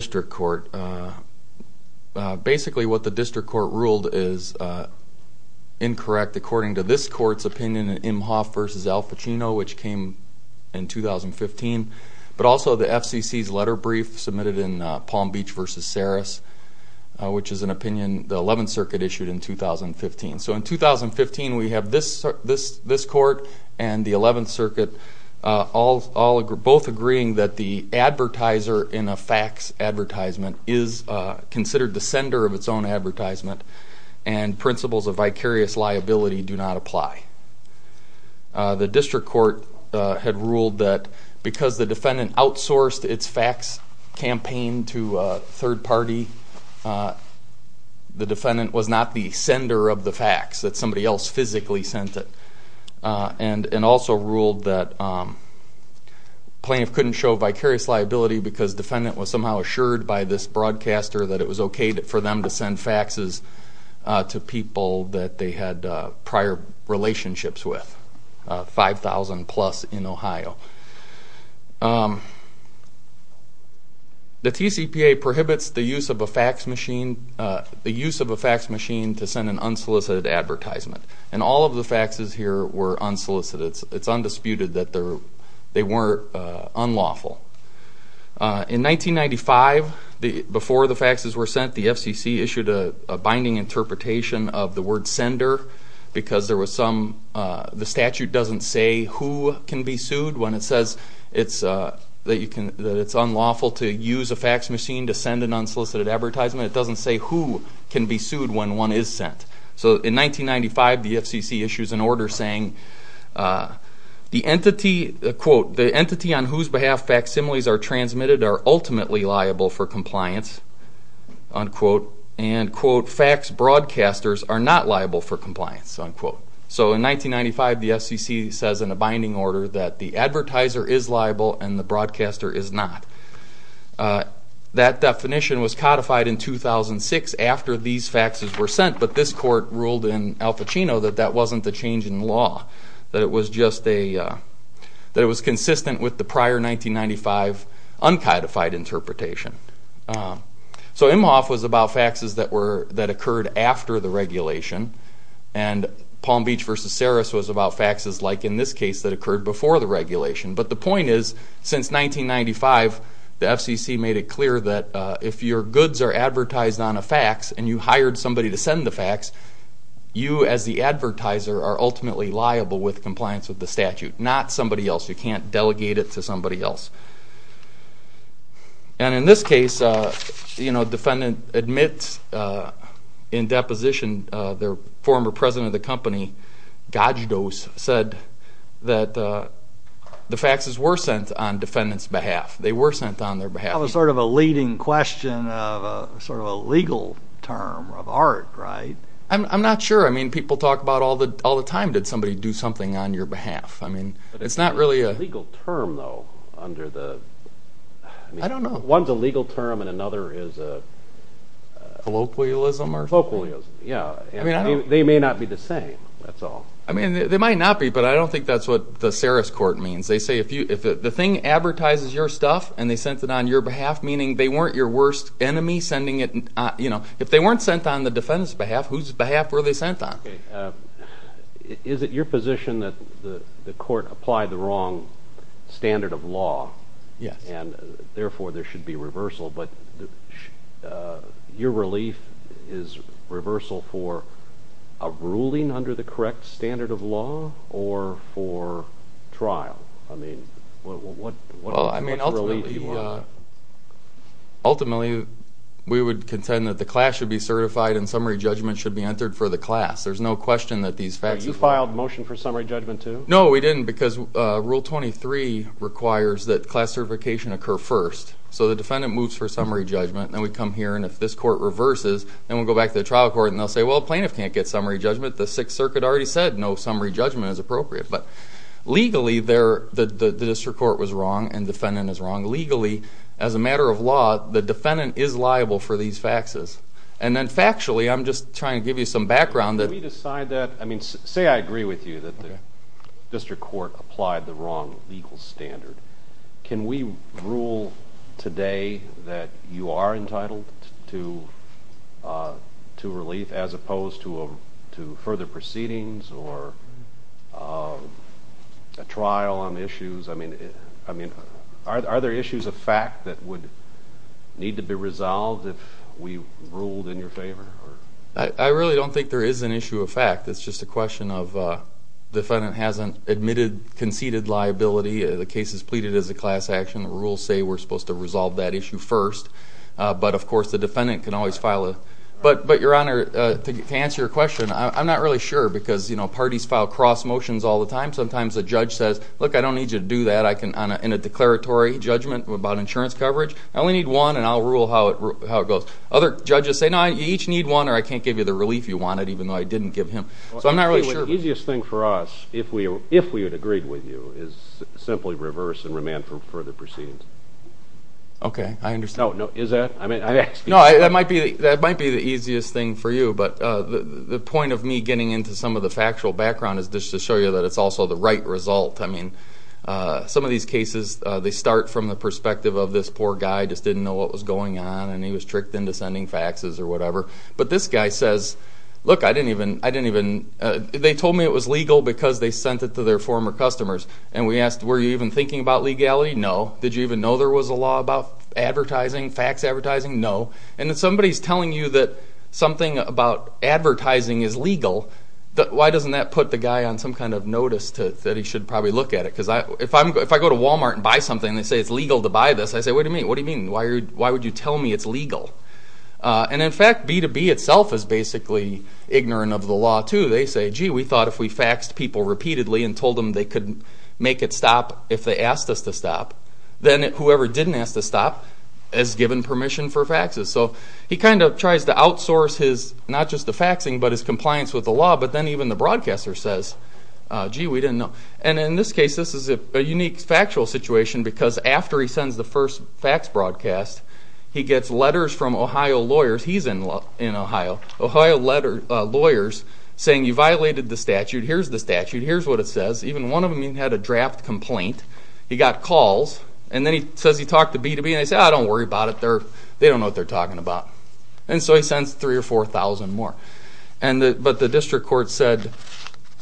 District Court, basically what the District Court ruled is incorrect according to this court's opinion in Imhoff v. Al Pacino, which came in 2015, but also the FCC's letter brief submitted in Palm Beach v. Saris, which is an opinion the 11th Circuit issued in 2015. So in 2015 we have this court and the 11th Circuit both agreeing that the advertiser in a fax advertisement is considered the sender of its own advertisement and principles of vicarious liability do not apply. The District Court had ruled that because the defendant outsourced its fax campaign to a third party, the defendant was not the sender of the fax, that somebody else physically sent it, and also ruled that plaintiff couldn't show vicarious liability because defendant was somehow assured by this broadcaster that it was okay for them to send faxes to people that they had prior relationships with, 5,000 plus in Ohio. The TCPA prohibits the use of a fax machine to send an unsolicited advertisement, and all of the faxes here were unsolicited. It's undisputed that they weren't unlawful. In 1995, before the faxes were sent, the FCC issued a binding interpretation of the word sender because there was some, the statute doesn't say who can be sued when it says it's, that you can, that it's unlawful to use a fax machine to send an unsolicited advertisement. It doesn't say who can be sued when one is sent. So in 1995, the FCC issues an order saying, the entity, quote, the entity on whose behalf facsimiles are transmitted are ultimately liable for compliance, unquote, and quote, fax broadcasters are not liable for compliance, unquote. So in 1995, the FCC says in a binding order that the advertiser is liable and the broadcaster is not. That definition was codified in 2006 after these faxes were sent, but this court ruled in Al Pacino that that wasn't the change in law, that it was just a, that it was consistent with the prior 1995 uncodified interpretation. So Imhoff was about faxes that were, that occurred after the regulation, and Palm Beach versus Saris was about faxes like in this case that occurred before the if your goods are advertised on a fax and you hired somebody to send the fax, you as the advertiser are ultimately liable with compliance with the statute, not somebody else. You can't delegate it to somebody else. And in this case, you know, defendant admits in deposition, their former president of the company, Gajdos, said that the faxes were sent on defendant's behalf. They were sent on their behalf. It was sort of a leading question of a sort of a legal term of art, right? I'm not sure. I mean, people talk about all the time, did somebody do something on your behalf? I mean, it's not really a legal term though, under the, I don't know, one's a legal term and another is a colloquialism or? Colloquialism, yeah. I mean, they may not be the same, that's all. I mean, they might not be, but I don't think that's what the Saris court means. They say if the thing advertises your stuff and they sent it on your behalf, meaning they weren't your worst enemy sending it, you know, if they weren't sent on the defendant's behalf, whose behalf were they sent on? Is it your position that the court applied the wrong standard of law? Yes. And therefore there should be reversal, but your relief is reversal for a ruling under the correct standard of law or for trial? I mean, what's the relief you want? Ultimately, we would contend that the class should be certified and summary judgment should be entered for the class. There's no question that these facts... You filed motion for summary judgment too? No, we didn't because Rule 23 requires that class certification occur first. So the defendant moves for summary judgment and then we come here and if this court reverses, then we'll go back to the trial court and they'll say, well, plaintiff can't get no summary judgment as appropriate. But legally, the district court was wrong and the defendant is wrong. Legally, as a matter of law, the defendant is liable for these faxes. And then factually, I'm just trying to give you some background... Can we decide that... I mean, say I agree with you that the district court applied the wrong legal standard. Can we rule today that you are entitled to relief as opposed to further proceedings or a trial on issues? I mean, are there issues of fact that would need to be resolved if we ruled in your favor? I really don't think there is an issue of fact. It's just a question of the defendant hasn't admitted conceded liability. The case is pleaded as a class action. The rules say we're supposed to resolve that issue first. But of course, the answer to your question, I'm not really sure because parties file cross motions all the time. Sometimes a judge says, look, I don't need you to do that in a declaratory judgment about insurance coverage. I only need one and I'll rule how it goes. Other judges say, no, you each need one or I can't give you the relief you wanted, even though I didn't give him. So I'm not really sure. The easiest thing for us, if we had agreed with you, is simply reverse and remand for further proceedings. Okay, I understand. No, is that? No, that might be the easiest thing for you, but the point of me getting into some of the factual background is just to show you that it's also the right result. I mean, some of these cases, they start from the perspective of this poor guy just didn't know what was going on and he was tricked into sending faxes or whatever. But this guy says, look, I didn't even, they told me it was legal because they sent it to their office. Did you even know there was a law about advertising, fax advertising? No. And if somebody's telling you that something about advertising is legal, why doesn't that put the guy on some kind of notice that he should probably look at it? Because if I go to Walmart and buy something and they say it's legal to buy this, I say, wait a minute, what do you mean? Why would you tell me it's legal? And in fact, B2B itself is basically ignorant of the law too. They say, gee, we thought if we faxed people repeatedly and told them they could make it stop if they asked us to stop, then whoever didn't ask to stop is given permission for faxes. So he kind of tries to outsource his, not just the faxing, but his compliance with the law. But then even the broadcaster says, gee, we didn't know. And in this case, this is a unique factual situation because after he sends the first fax broadcast, he gets letters from Ohio lawyers, he's in Ohio, Ohio lawyers saying you violated the statute, here's the statute, here's what it says. Even one of He got calls and then he says he talked to B2B and they say, oh, don't worry about it, they don't know what they're talking about. And so he sends three or 4,000 more. But the district court said,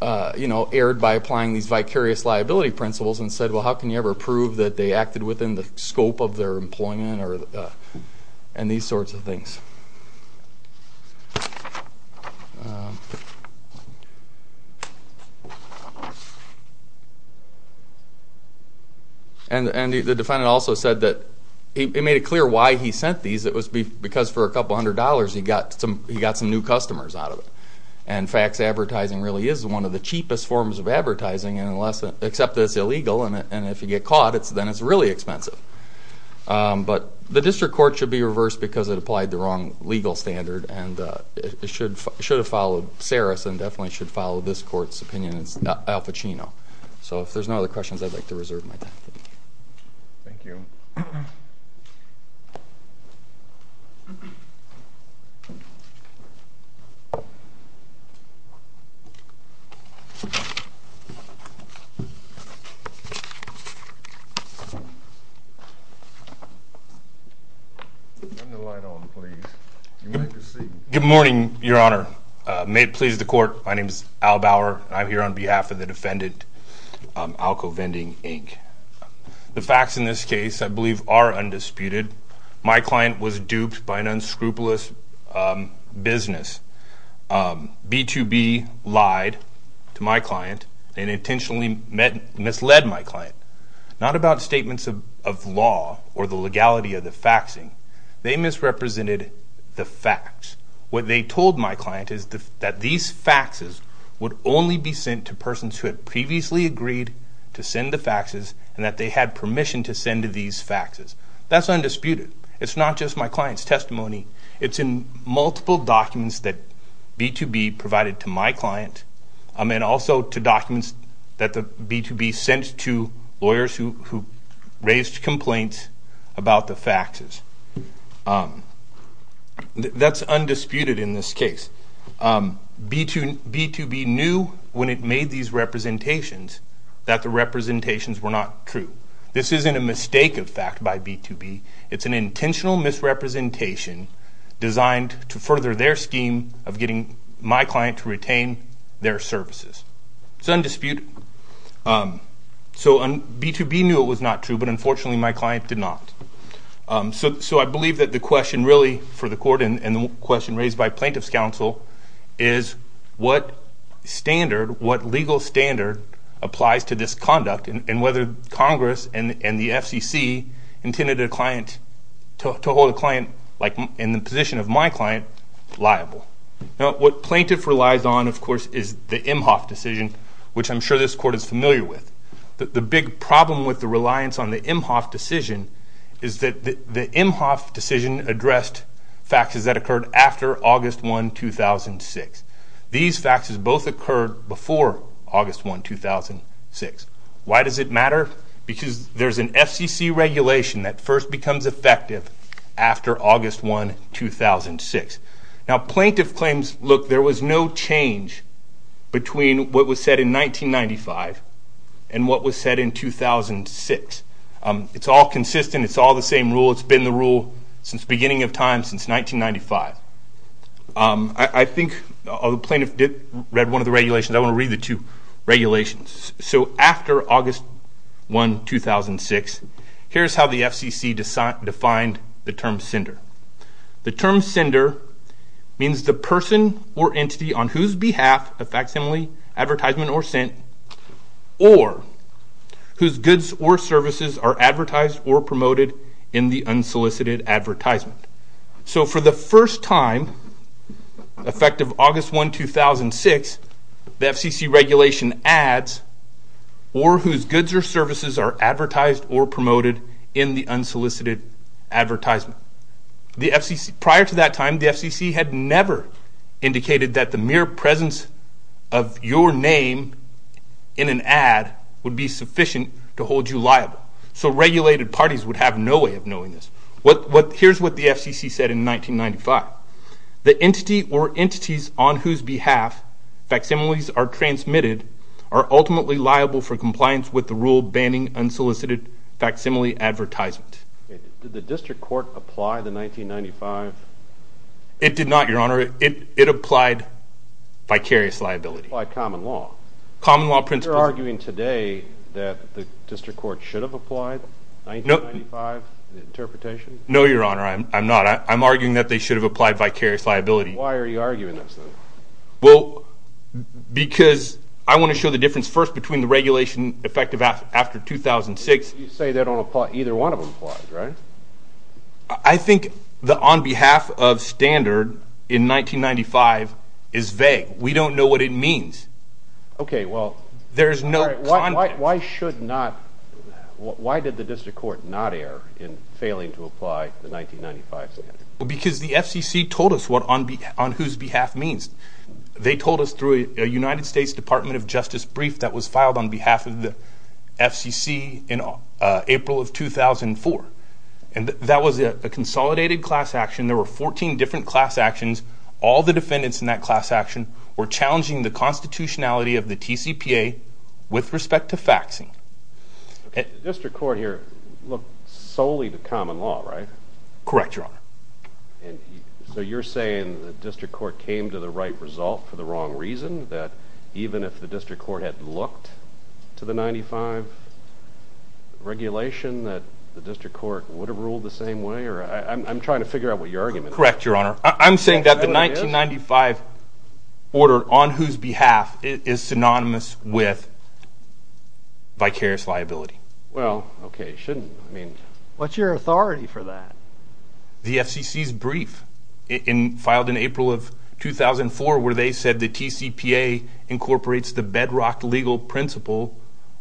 erred by applying these vicarious liability principles and said, well, how can you ever prove that they acted within the scope of their employment or and these sorts of things. And the defendant also said that he made it clear why he sent these. It was because for a couple hundred dollars, he got some new customers out of it. And fax advertising really is one of the cheapest forms of advertising, except that it's illegal and if you get caught, then it's really expensive. But the district court should be reversed because it applied the wrong legal standard and it should have followed Saris and definitely should follow this court's opinion, it's Al Pacino. So if there's no other questions, I'd like to reserve my time. Thank you. Good morning, Your Honor. May it please the court, my name is Al Bauer and I'm here on the facts in this case I believe are undisputed. My client was duped by an unscrupulous business. B2B lied to my client and intentionally misled my client. Not about statements of law or the legality of the faxing, they misrepresented the facts. What they told my client is that these faxes would only be sent to persons who had previously agreed to send the faxes and that they had permission to send these faxes. That's undisputed. It's not just my client's testimony, it's in multiple documents that B2B provided to my client and also to documents that B2B sent to lawyers who raised complaints about the faxes. That's undisputed in this case. B2B knew when it made these representations that the representations were not true. This isn't a mistake of fact by B2B, it's an intentional misrepresentation designed to further their scheme of getting my client to retain their services. It's undisputed. So B2B knew it was not true but unfortunately my client did not. So I believe that the question really for the court and the question raised by plaintiff's counsel is what standard, what legal standard applies to this conduct and whether Congress and the FCC intended a client, to hold a client like in the position of my client liable. Now what plaintiff relies on of course is the Imhoff decision, which I'm sure this court is familiar with. The big problem with the reliance on the Imhoff decision is that the Imhoff decision addressed faxes that occurred after August 1, 2006. These faxes both occurred before August 1, 2006. Why does it matter? Because there's an FCC regulation that first becomes effective after August 1, 2006. Now plaintiff claims, look, there was no change between what was said in 1995 and what was said in 2006. It's all consistent. It's all the same rule. It's been the rule since the beginning of time, since 1995. I think the plaintiff did read one of the regulations. I want to read the two regulations. So after August 1, 2006, here's how the FCC defined the term sender. The term sender means the person or entity on whose behalf a facsimile, advertisement, or sent, or whose goods or services are advertised or promoted in the unsolicited advertisement. So for the first time, effective August 1, 2006, the FCC regulation adds, or whose goods or services are advertised or promoted in the unsolicited advertisement. Prior to that time, the FCC had never indicated that the mere presence of your name in an ad would be sufficient to hold you liable. So regulated parties would have no way of knowing this. Here's what the FCC said in 1995. The entity or entities on whose behalf facsimiles are transmitted are ultimately liable for compliance with the rule banning unsolicited facsimile advertisement. Did the district court apply the 1995? It did not, your honor. It applied vicarious liability. It applied common law. Common law principles. You're arguing today that the district court should have applied 1995, the interpretation? No, your honor. I'm not. I'm arguing that they should have applied vicarious liability. Why are you arguing this then? Well, because I want to show the difference first between the regulation effective after 2006. You say they don't apply. Either one of them applies, right? I think the on behalf of standard in 1995 is vague. We don't know what it means. Okay. Well, there's no... Why did the district court not err in failing to apply the 1995 standard? Because the FCC told us what on whose behalf means. They told us through a United States Department of Justice brief that was filed on behalf of the FCC in April of 2004. And that was a consolidated class action. There were 14 different class actions. All the defendants in that class action were challenging the constitutionality of the TCPA with respect to faxing. The district court here looked solely to common law, right? Correct, your honor. And so you're saying the district court came to the right result for the wrong reason that even if the district court had looked to the 95 regulation that the district court would have ruled the same way? I'm trying to figure out what your argument is. Correct, your honor. I'm saying that the 1995 order on whose behalf is synonymous with vicarious liability. Well, okay. Shouldn't, I mean... What's your authority for that? The FCC's brief filed in April of 2004 where they said the TCPA incorporates the bedrock legal principle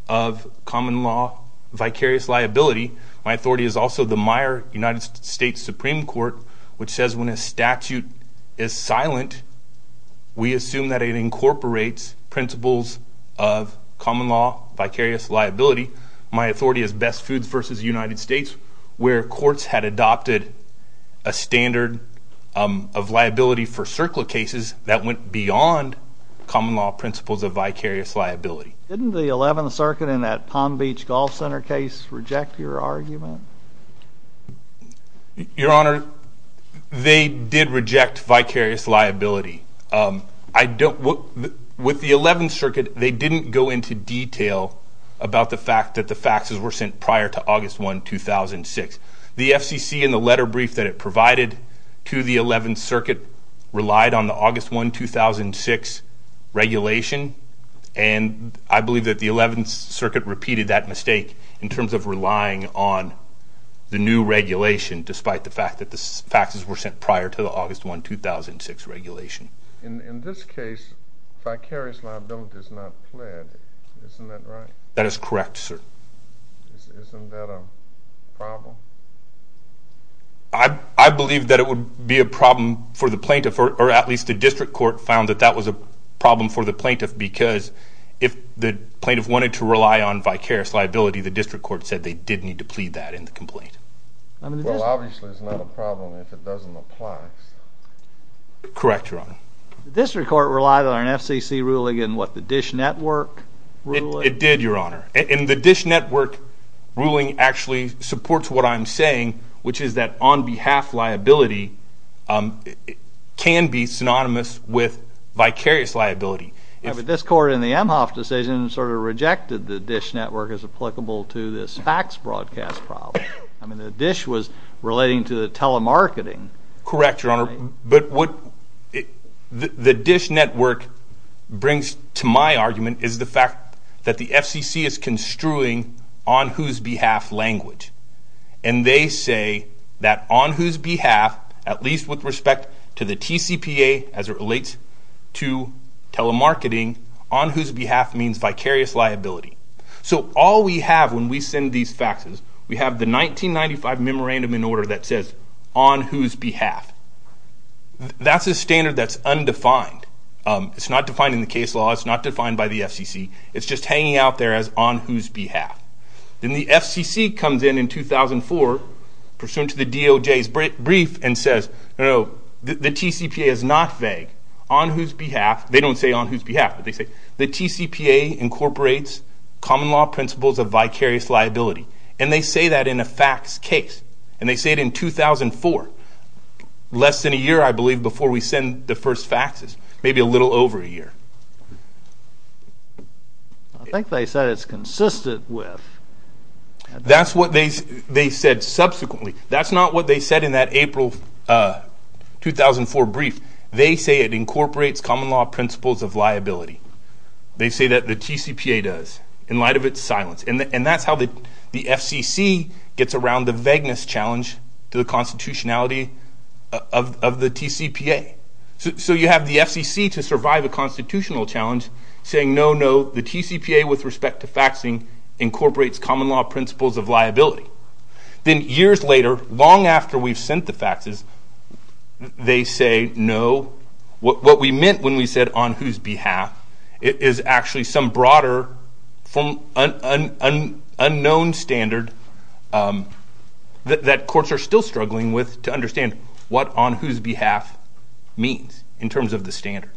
of common law, vicarious liability. My authority is also the Meijer United States Supreme Court, which says when a statute is silent, we assume that it incorporates principles of common law, vicarious liability. My authority is Best Foods versus United States, where courts had adopted a standard of liability for circle cases that went beyond common law principles of vicarious liability. Didn't the 11th Circuit in that Palm Beach Golf Center case reject your argument? Your honor, they did reject vicarious liability. With the 11th Circuit, they didn't go into detail about the fact that the faxes were sent prior to August 1, 2006. The FCC in the letter brief that provided to the 11th Circuit relied on the August 1, 2006 regulation, and I believe that the 11th Circuit repeated that mistake in terms of relying on the new regulation despite the fact that the faxes were sent prior to the August 1, 2006 regulation. In this case, vicarious liability does not play, isn't that right? That is correct, sir. Isn't that a problem? I believe that it would be a problem for the plaintiff, or at least the district court found that that was a problem for the plaintiff, because if the plaintiff wanted to rely on vicarious liability, the district court said they did need to plead that in the complaint. Obviously, it's not a problem if it doesn't apply. Correct, your honor. The district court relied on an FCC ruling in what, the Dish Network ruling? It did, your honor. And the Dish Network ruling actually supports what I'm saying, which is that on behalf liability can be synonymous with vicarious liability. This court in the Emhoff decision sort of rejected the Dish Network as applicable to this fax broadcast problem. I mean, the Dish was relating to the telemarketing. Correct, your honor. But what the Dish Network brings to my argument is the fact that the FCC is construing on whose behalf language. And they say that on whose behalf, at least with respect to the TCPA as it relates to telemarketing, on whose behalf means vicarious liability. So all we have when we send these faxes, we have the 1995 memorandum in order that says on whose behalf. That's a standard that's undefined. It's not defined in the case law. It's not defined by the FCC. It's just hanging out there as on whose behalf. Then the FCC comes in in 2004, pursuant to the DOJ's brief and says, no, no, the TCPA is not vague. On whose behalf, they don't say on whose behalf, but they say the TCPA incorporates common principles of vicarious liability. And they say that in a fax case. And they say it in 2004, less than a year, I believe, before we send the first faxes. Maybe a little over a year. I think they said it's consistent with... That's what they said subsequently. That's not what they said in that April 2004 brief. They say it incorporates common law principles of liability. They say that the TCPA does. In light of its silence. And that's how the FCC gets around the vagueness challenge to the constitutionality of the TCPA. So you have the FCC to survive a constitutional challenge saying, no, no, the TCPA with respect to faxing incorporates common law principles of liability. Then years later, long after we've sent the faxes, they say, no, what we meant when we said on whose behalf is actually some broader, unknown standard that courts are still struggling with to understand what on whose behalf means in terms of the standard.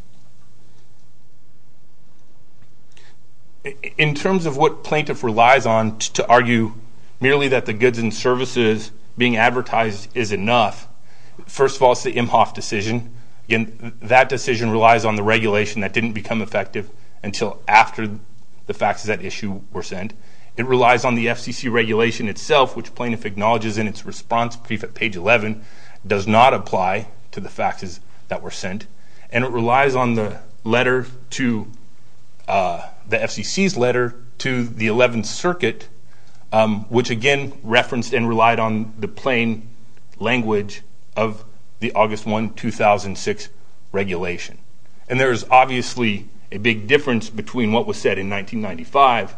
In terms of what plaintiff relies on to argue merely that the goods and services being advertised is enough. First of all, it's the Imhoff decision. Again, that decision relies on the regulation that didn't become effective until after the faxes that issue were sent. It relies on the FCC regulation itself, which plaintiff acknowledges in its response brief at page 11, does not apply to the faxes that were sent. And it relies on the letter to the FCC's letter to the 11th circuit, which again referenced and relied on the plain language of the August 1, 2006 regulation. And there's obviously a big difference between what was said in 1995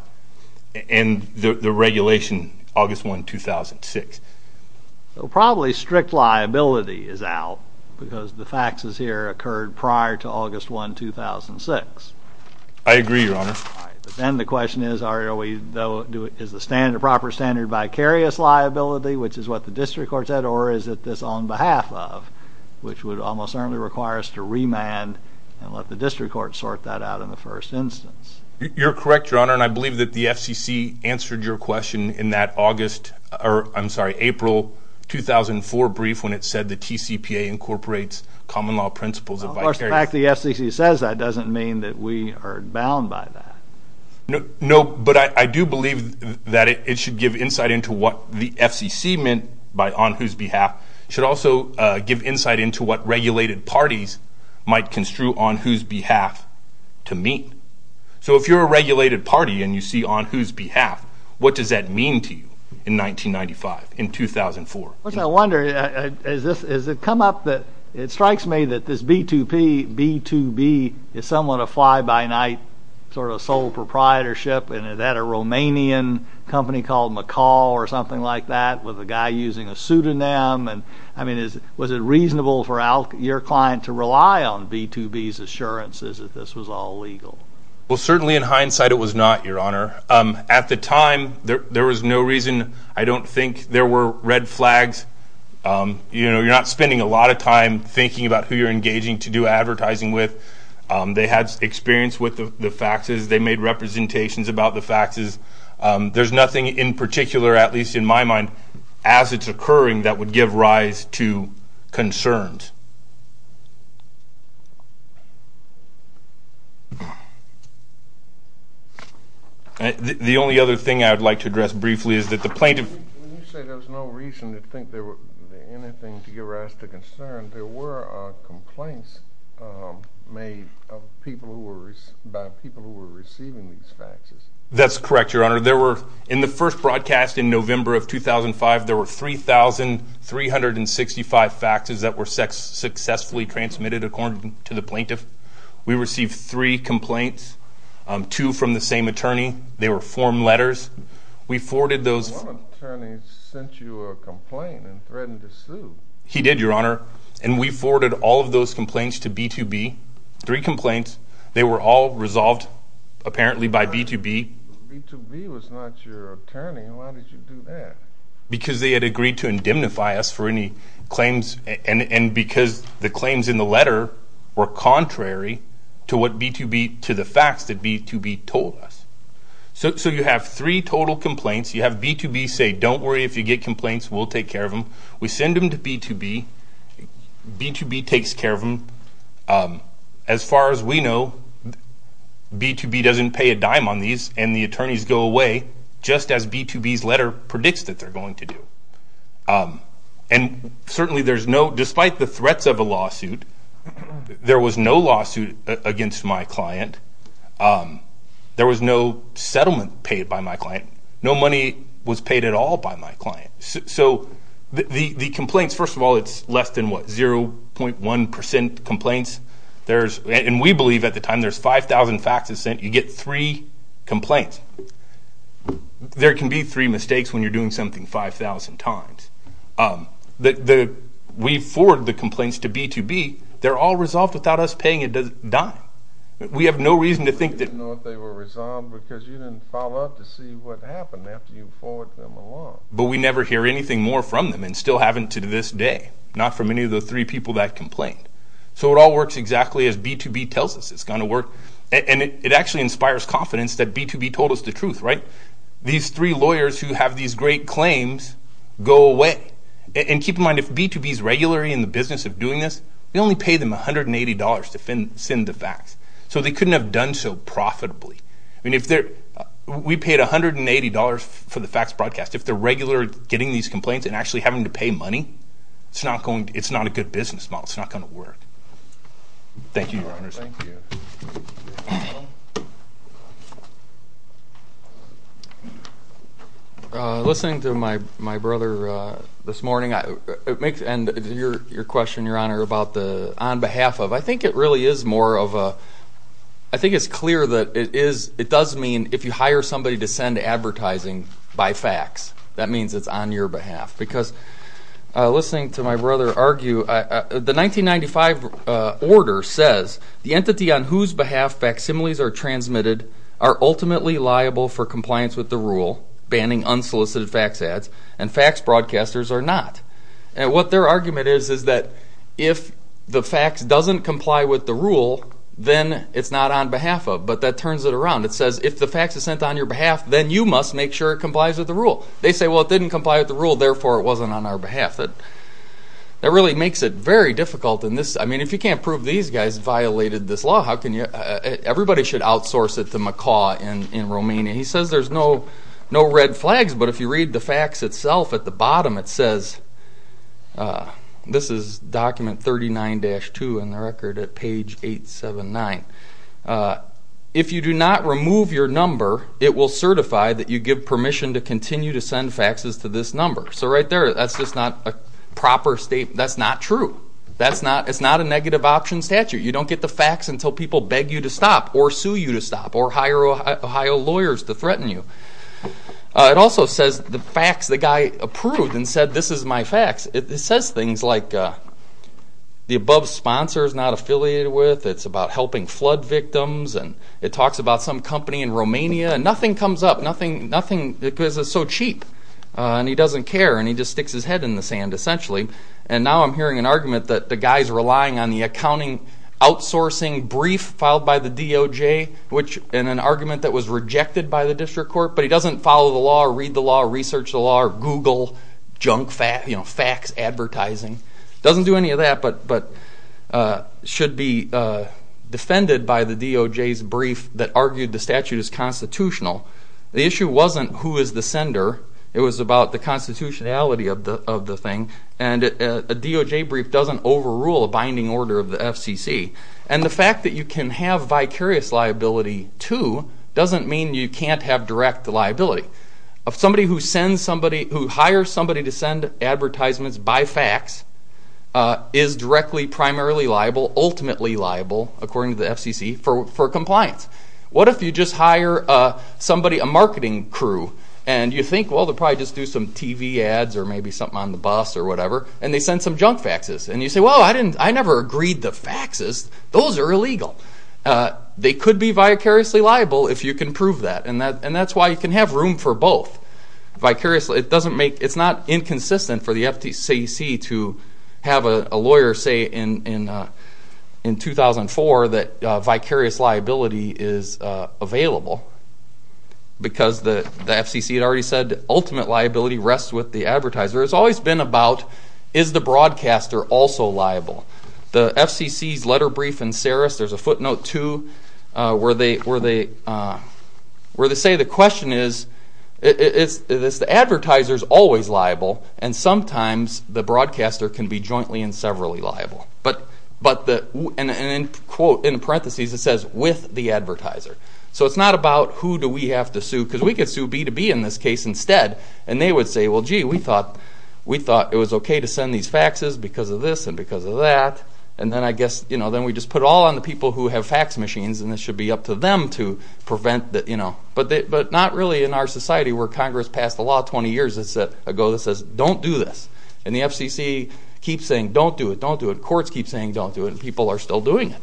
and the regulation August 1, 2006. So probably strict liability is out because the faxes here occurred prior to August 1, 2006. I agree, your honor. Then the question is, is the proper standard vicarious liability, which is what the district court said, or is it this on behalf of, which would almost certainly require us to remand and let the district court sort that out in the first instance? You're correct, your honor, and I believe that the FCC answered your question in that August, or I'm sorry, April 2004 brief when it said the TCPA incorporates common law principles. Of course, the fact the FCC says that doesn't mean that we are bound by that. No, but I do believe that it should give insight into what the FCC meant by on whose behalf, should also give insight into what regulated parties might construe on whose behalf to meet. So if you're a regulated party and you see on whose behalf, what does that mean to you in 1995, in 2004? I wonder, has it come up that it strikes me that this B2B is somewhat a fly-by-night sort of sole proprietorship and it had a Romanian company called McCall or something like that with a guy using a pseudonym, and I mean, was it reasonable for your client to rely on B2B's assurances that this was all legal? Well, certainly in hindsight, it was not, your honor. At the time, there was no reason. I don't think there were red flags. You're not spending a lot of time thinking about who you're engaging to do advertising with. They had experience with the faxes. They made representations about the faxes. There's nothing in particular, at least in my mind, as it's occurring that would give rise to concerns. The only other thing I would like to address briefly is that the plaintiff... When you say there was no reason to think there was anything to give rise to concern, there were complaints made by people who were receiving these faxes. That's correct, your honor. There were, in the first broadcast in November of 2005, there were 3,365 faxes that were sex offenders. Successfully transmitted according to the plaintiff. We received three complaints, two from the same attorney. They were form letters. We forwarded those... One attorney sent you a complaint and threatened to sue. He did, your honor. And we forwarded all of those complaints to B2B, three complaints. They were all resolved, apparently, by B2B. B2B was not your attorney. Why did you do that? Because they had agreed to indemnify us for any claims and because the claims in the letter were contrary to what B2B... To the facts that B2B told us. So you have three total complaints. You have B2B say, don't worry if you get complaints, we'll take care of them. We send them to B2B. B2B takes care of them. As far as we know, B2B doesn't pay a dime on these and the attorneys go away just as B2B's letter predicts that they're going to do. And certainly there's no... Despite the threats of a lawsuit, there was no lawsuit against my client. There was no settlement paid by my client. No money was paid at all by my client. So the complaints... First of all, it's less than, what, 0.1% complaints. And we believe at the time there's 5,000 faxes sent, you get three complaints. There can be three mistakes when you're doing something 5,000 times. We forward the complaints to B2B. They're all resolved without us paying a dime. We have no reason to think that... You didn't know if they were resolved because you didn't follow up to see what happened after you forwarded them along. But we never hear anything more from them and still haven't to this day. Not from any of the three people that complained. So it all works exactly as B2B tells us it's going to work. And it actually inspires confidence that B2B told us the truth, right? These three lawyers who have these great claims go away. And keep in mind, if B2B is regular in the business of doing this, we only pay them $180 to send the fax. So they couldn't have done so profitably. We paid $180 for the fax broadcast. If they're regular getting these complaints and actually having to pay money, it's not a good business model. It's not going to work. Thank you, Your Honors. Thank you. Listening to my brother this morning, and your question, Your Honor, about the on behalf of, I think it really is more of a... I think it's clear that it does mean if you hire somebody to send advertising by fax, that means it's on your behalf. Because listening to my brother argue, the 1995 order says, the entity on whose behalf facsimiles are transmitted are ultimately liable for compliance with the rule, banning unsolicited fax ads, and fax broadcasters are not. And what their argument is, is that if the fax doesn't comply with the rule, then it's not on behalf of. But that turns it around. It says, if the fax is sent on your behalf, then you must make sure it complies with the rule. They say, well, it didn't comply with the rule, therefore it wasn't on our behalf. That really makes it very difficult. If you can't prove these guys violated this law, everybody should outsource it to McCaw in Romania. He says there's no red flags, but if you read the fax itself at the bottom, it says, this is document 39-2 in the record at page 879. If you do not remove your number, it will certify that you give permission to continue to send faxes to this number. So right there, that's just not a proper statement. That's not true. It's not a negative option statute. You don't get the fax until people beg you to stop, or sue you to stop, or hire Ohio lawyers to threaten you. It also says the fax the guy approved and said, this is my fax. It says things like, the above sponsor is not affiliated with, it's about helping flood victims, and it talks about some company in Romania, and nothing comes up. Nothing, because it's so cheap. And he doesn't care, and he just sticks his head in the sand, essentially. And now I'm hearing an argument that the guy's relying on the accounting, outsourcing brief filed by the DOJ, which in an argument that was rejected by the district court, but he doesn't follow the law, or read the law, or research the law, or Google junk fax advertising. Doesn't do any of that, but should be defended by the DOJ's brief that argued the statute is constitutional. The issue wasn't who is the sender, it was about the constitutionality of the thing, and a DOJ brief doesn't overrule a binding order of the FCC. And the fact that you can have vicarious liability too, doesn't mean you can't have direct liability. If somebody who sends somebody, who hires somebody to send advertisements by fax, is directly primarily liable, ultimately liable, according to the FCC, for compliance. What if you just hire somebody, a marketing crew, and you think, well, they'll probably just do some TV ads, or maybe something on the bus, or whatever, and they send some junk faxes, and you say, well, I never agreed the faxes. Those are illegal. They could be vicariously liable if you can prove that, and that's why you can have room for both. It's not inconsistent for the FCC to have a lawyer say in 2004 that vicarious liability is available, because the FCC had already said, ultimate liability rests with the advertiser. It's always been about, is the broadcaster also liable? The FCC's letter brief in Saris, there's a footnote too, where they say the question is, the advertiser's always liable, and sometimes the broadcaster can be jointly and severally liable. And in parentheses, it says, with the advertiser. So it's not about who do we have to sue, because we could sue B2B in this case instead, and they would say, well, gee, we thought it was okay to send these faxes because of this and because of that, and then I guess we just put it all on the people who have fax machines, and it should be up to them to prevent that. But not really in our society, where Congress passed a law 20 years ago that says, don't do this. And the FCC keeps saying, don't do it, don't do it. Courts keep saying, don't do it, and people are still doing it.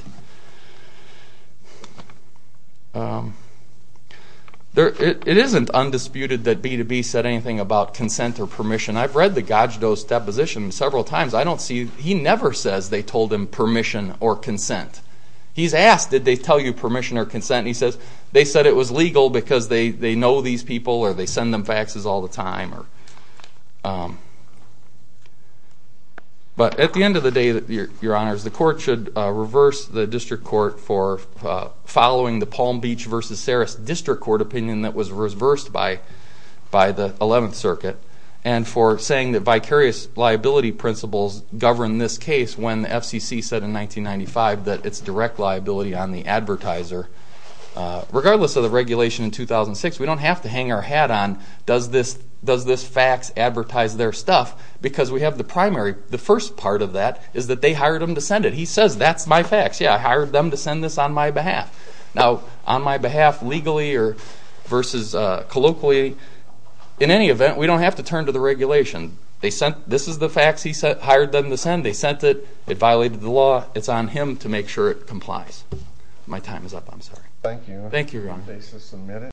It isn't undisputed that B2B said anything about consent or permission. I've read the Gajdo's deposition several times. I don't see, he never says, they told him permission or consent. He's asked, did they tell you permission or consent? And he says, they said it was legal because they know these people or they send them faxes all the time. But at the end of the day, your honors, the court should reverse the district court for following the Palm Beach versus Saras District Court opinion that was reversed by the 11th Circuit and for saying that vicarious liability principles govern this case when the FCC said in 1995 that it's direct liability on the advertiser. Regardless of the regulation in 2006, we don't have to hang our hat on, does this fax advertise their stuff? Because we have the primary, the first part of that is that they hired him to send it. He says, that's my fax. Yeah, I hired them to send this on my behalf. Now, on my behalf, legally or versus colloquially, in any event, we don't have to turn to the regulation. This is the fax he hired them to send. They sent it, it violated the law. It's on him to make sure it complies. My time is up, I'm sorry. Thank you. Thank you, your honor. Your case is submitted.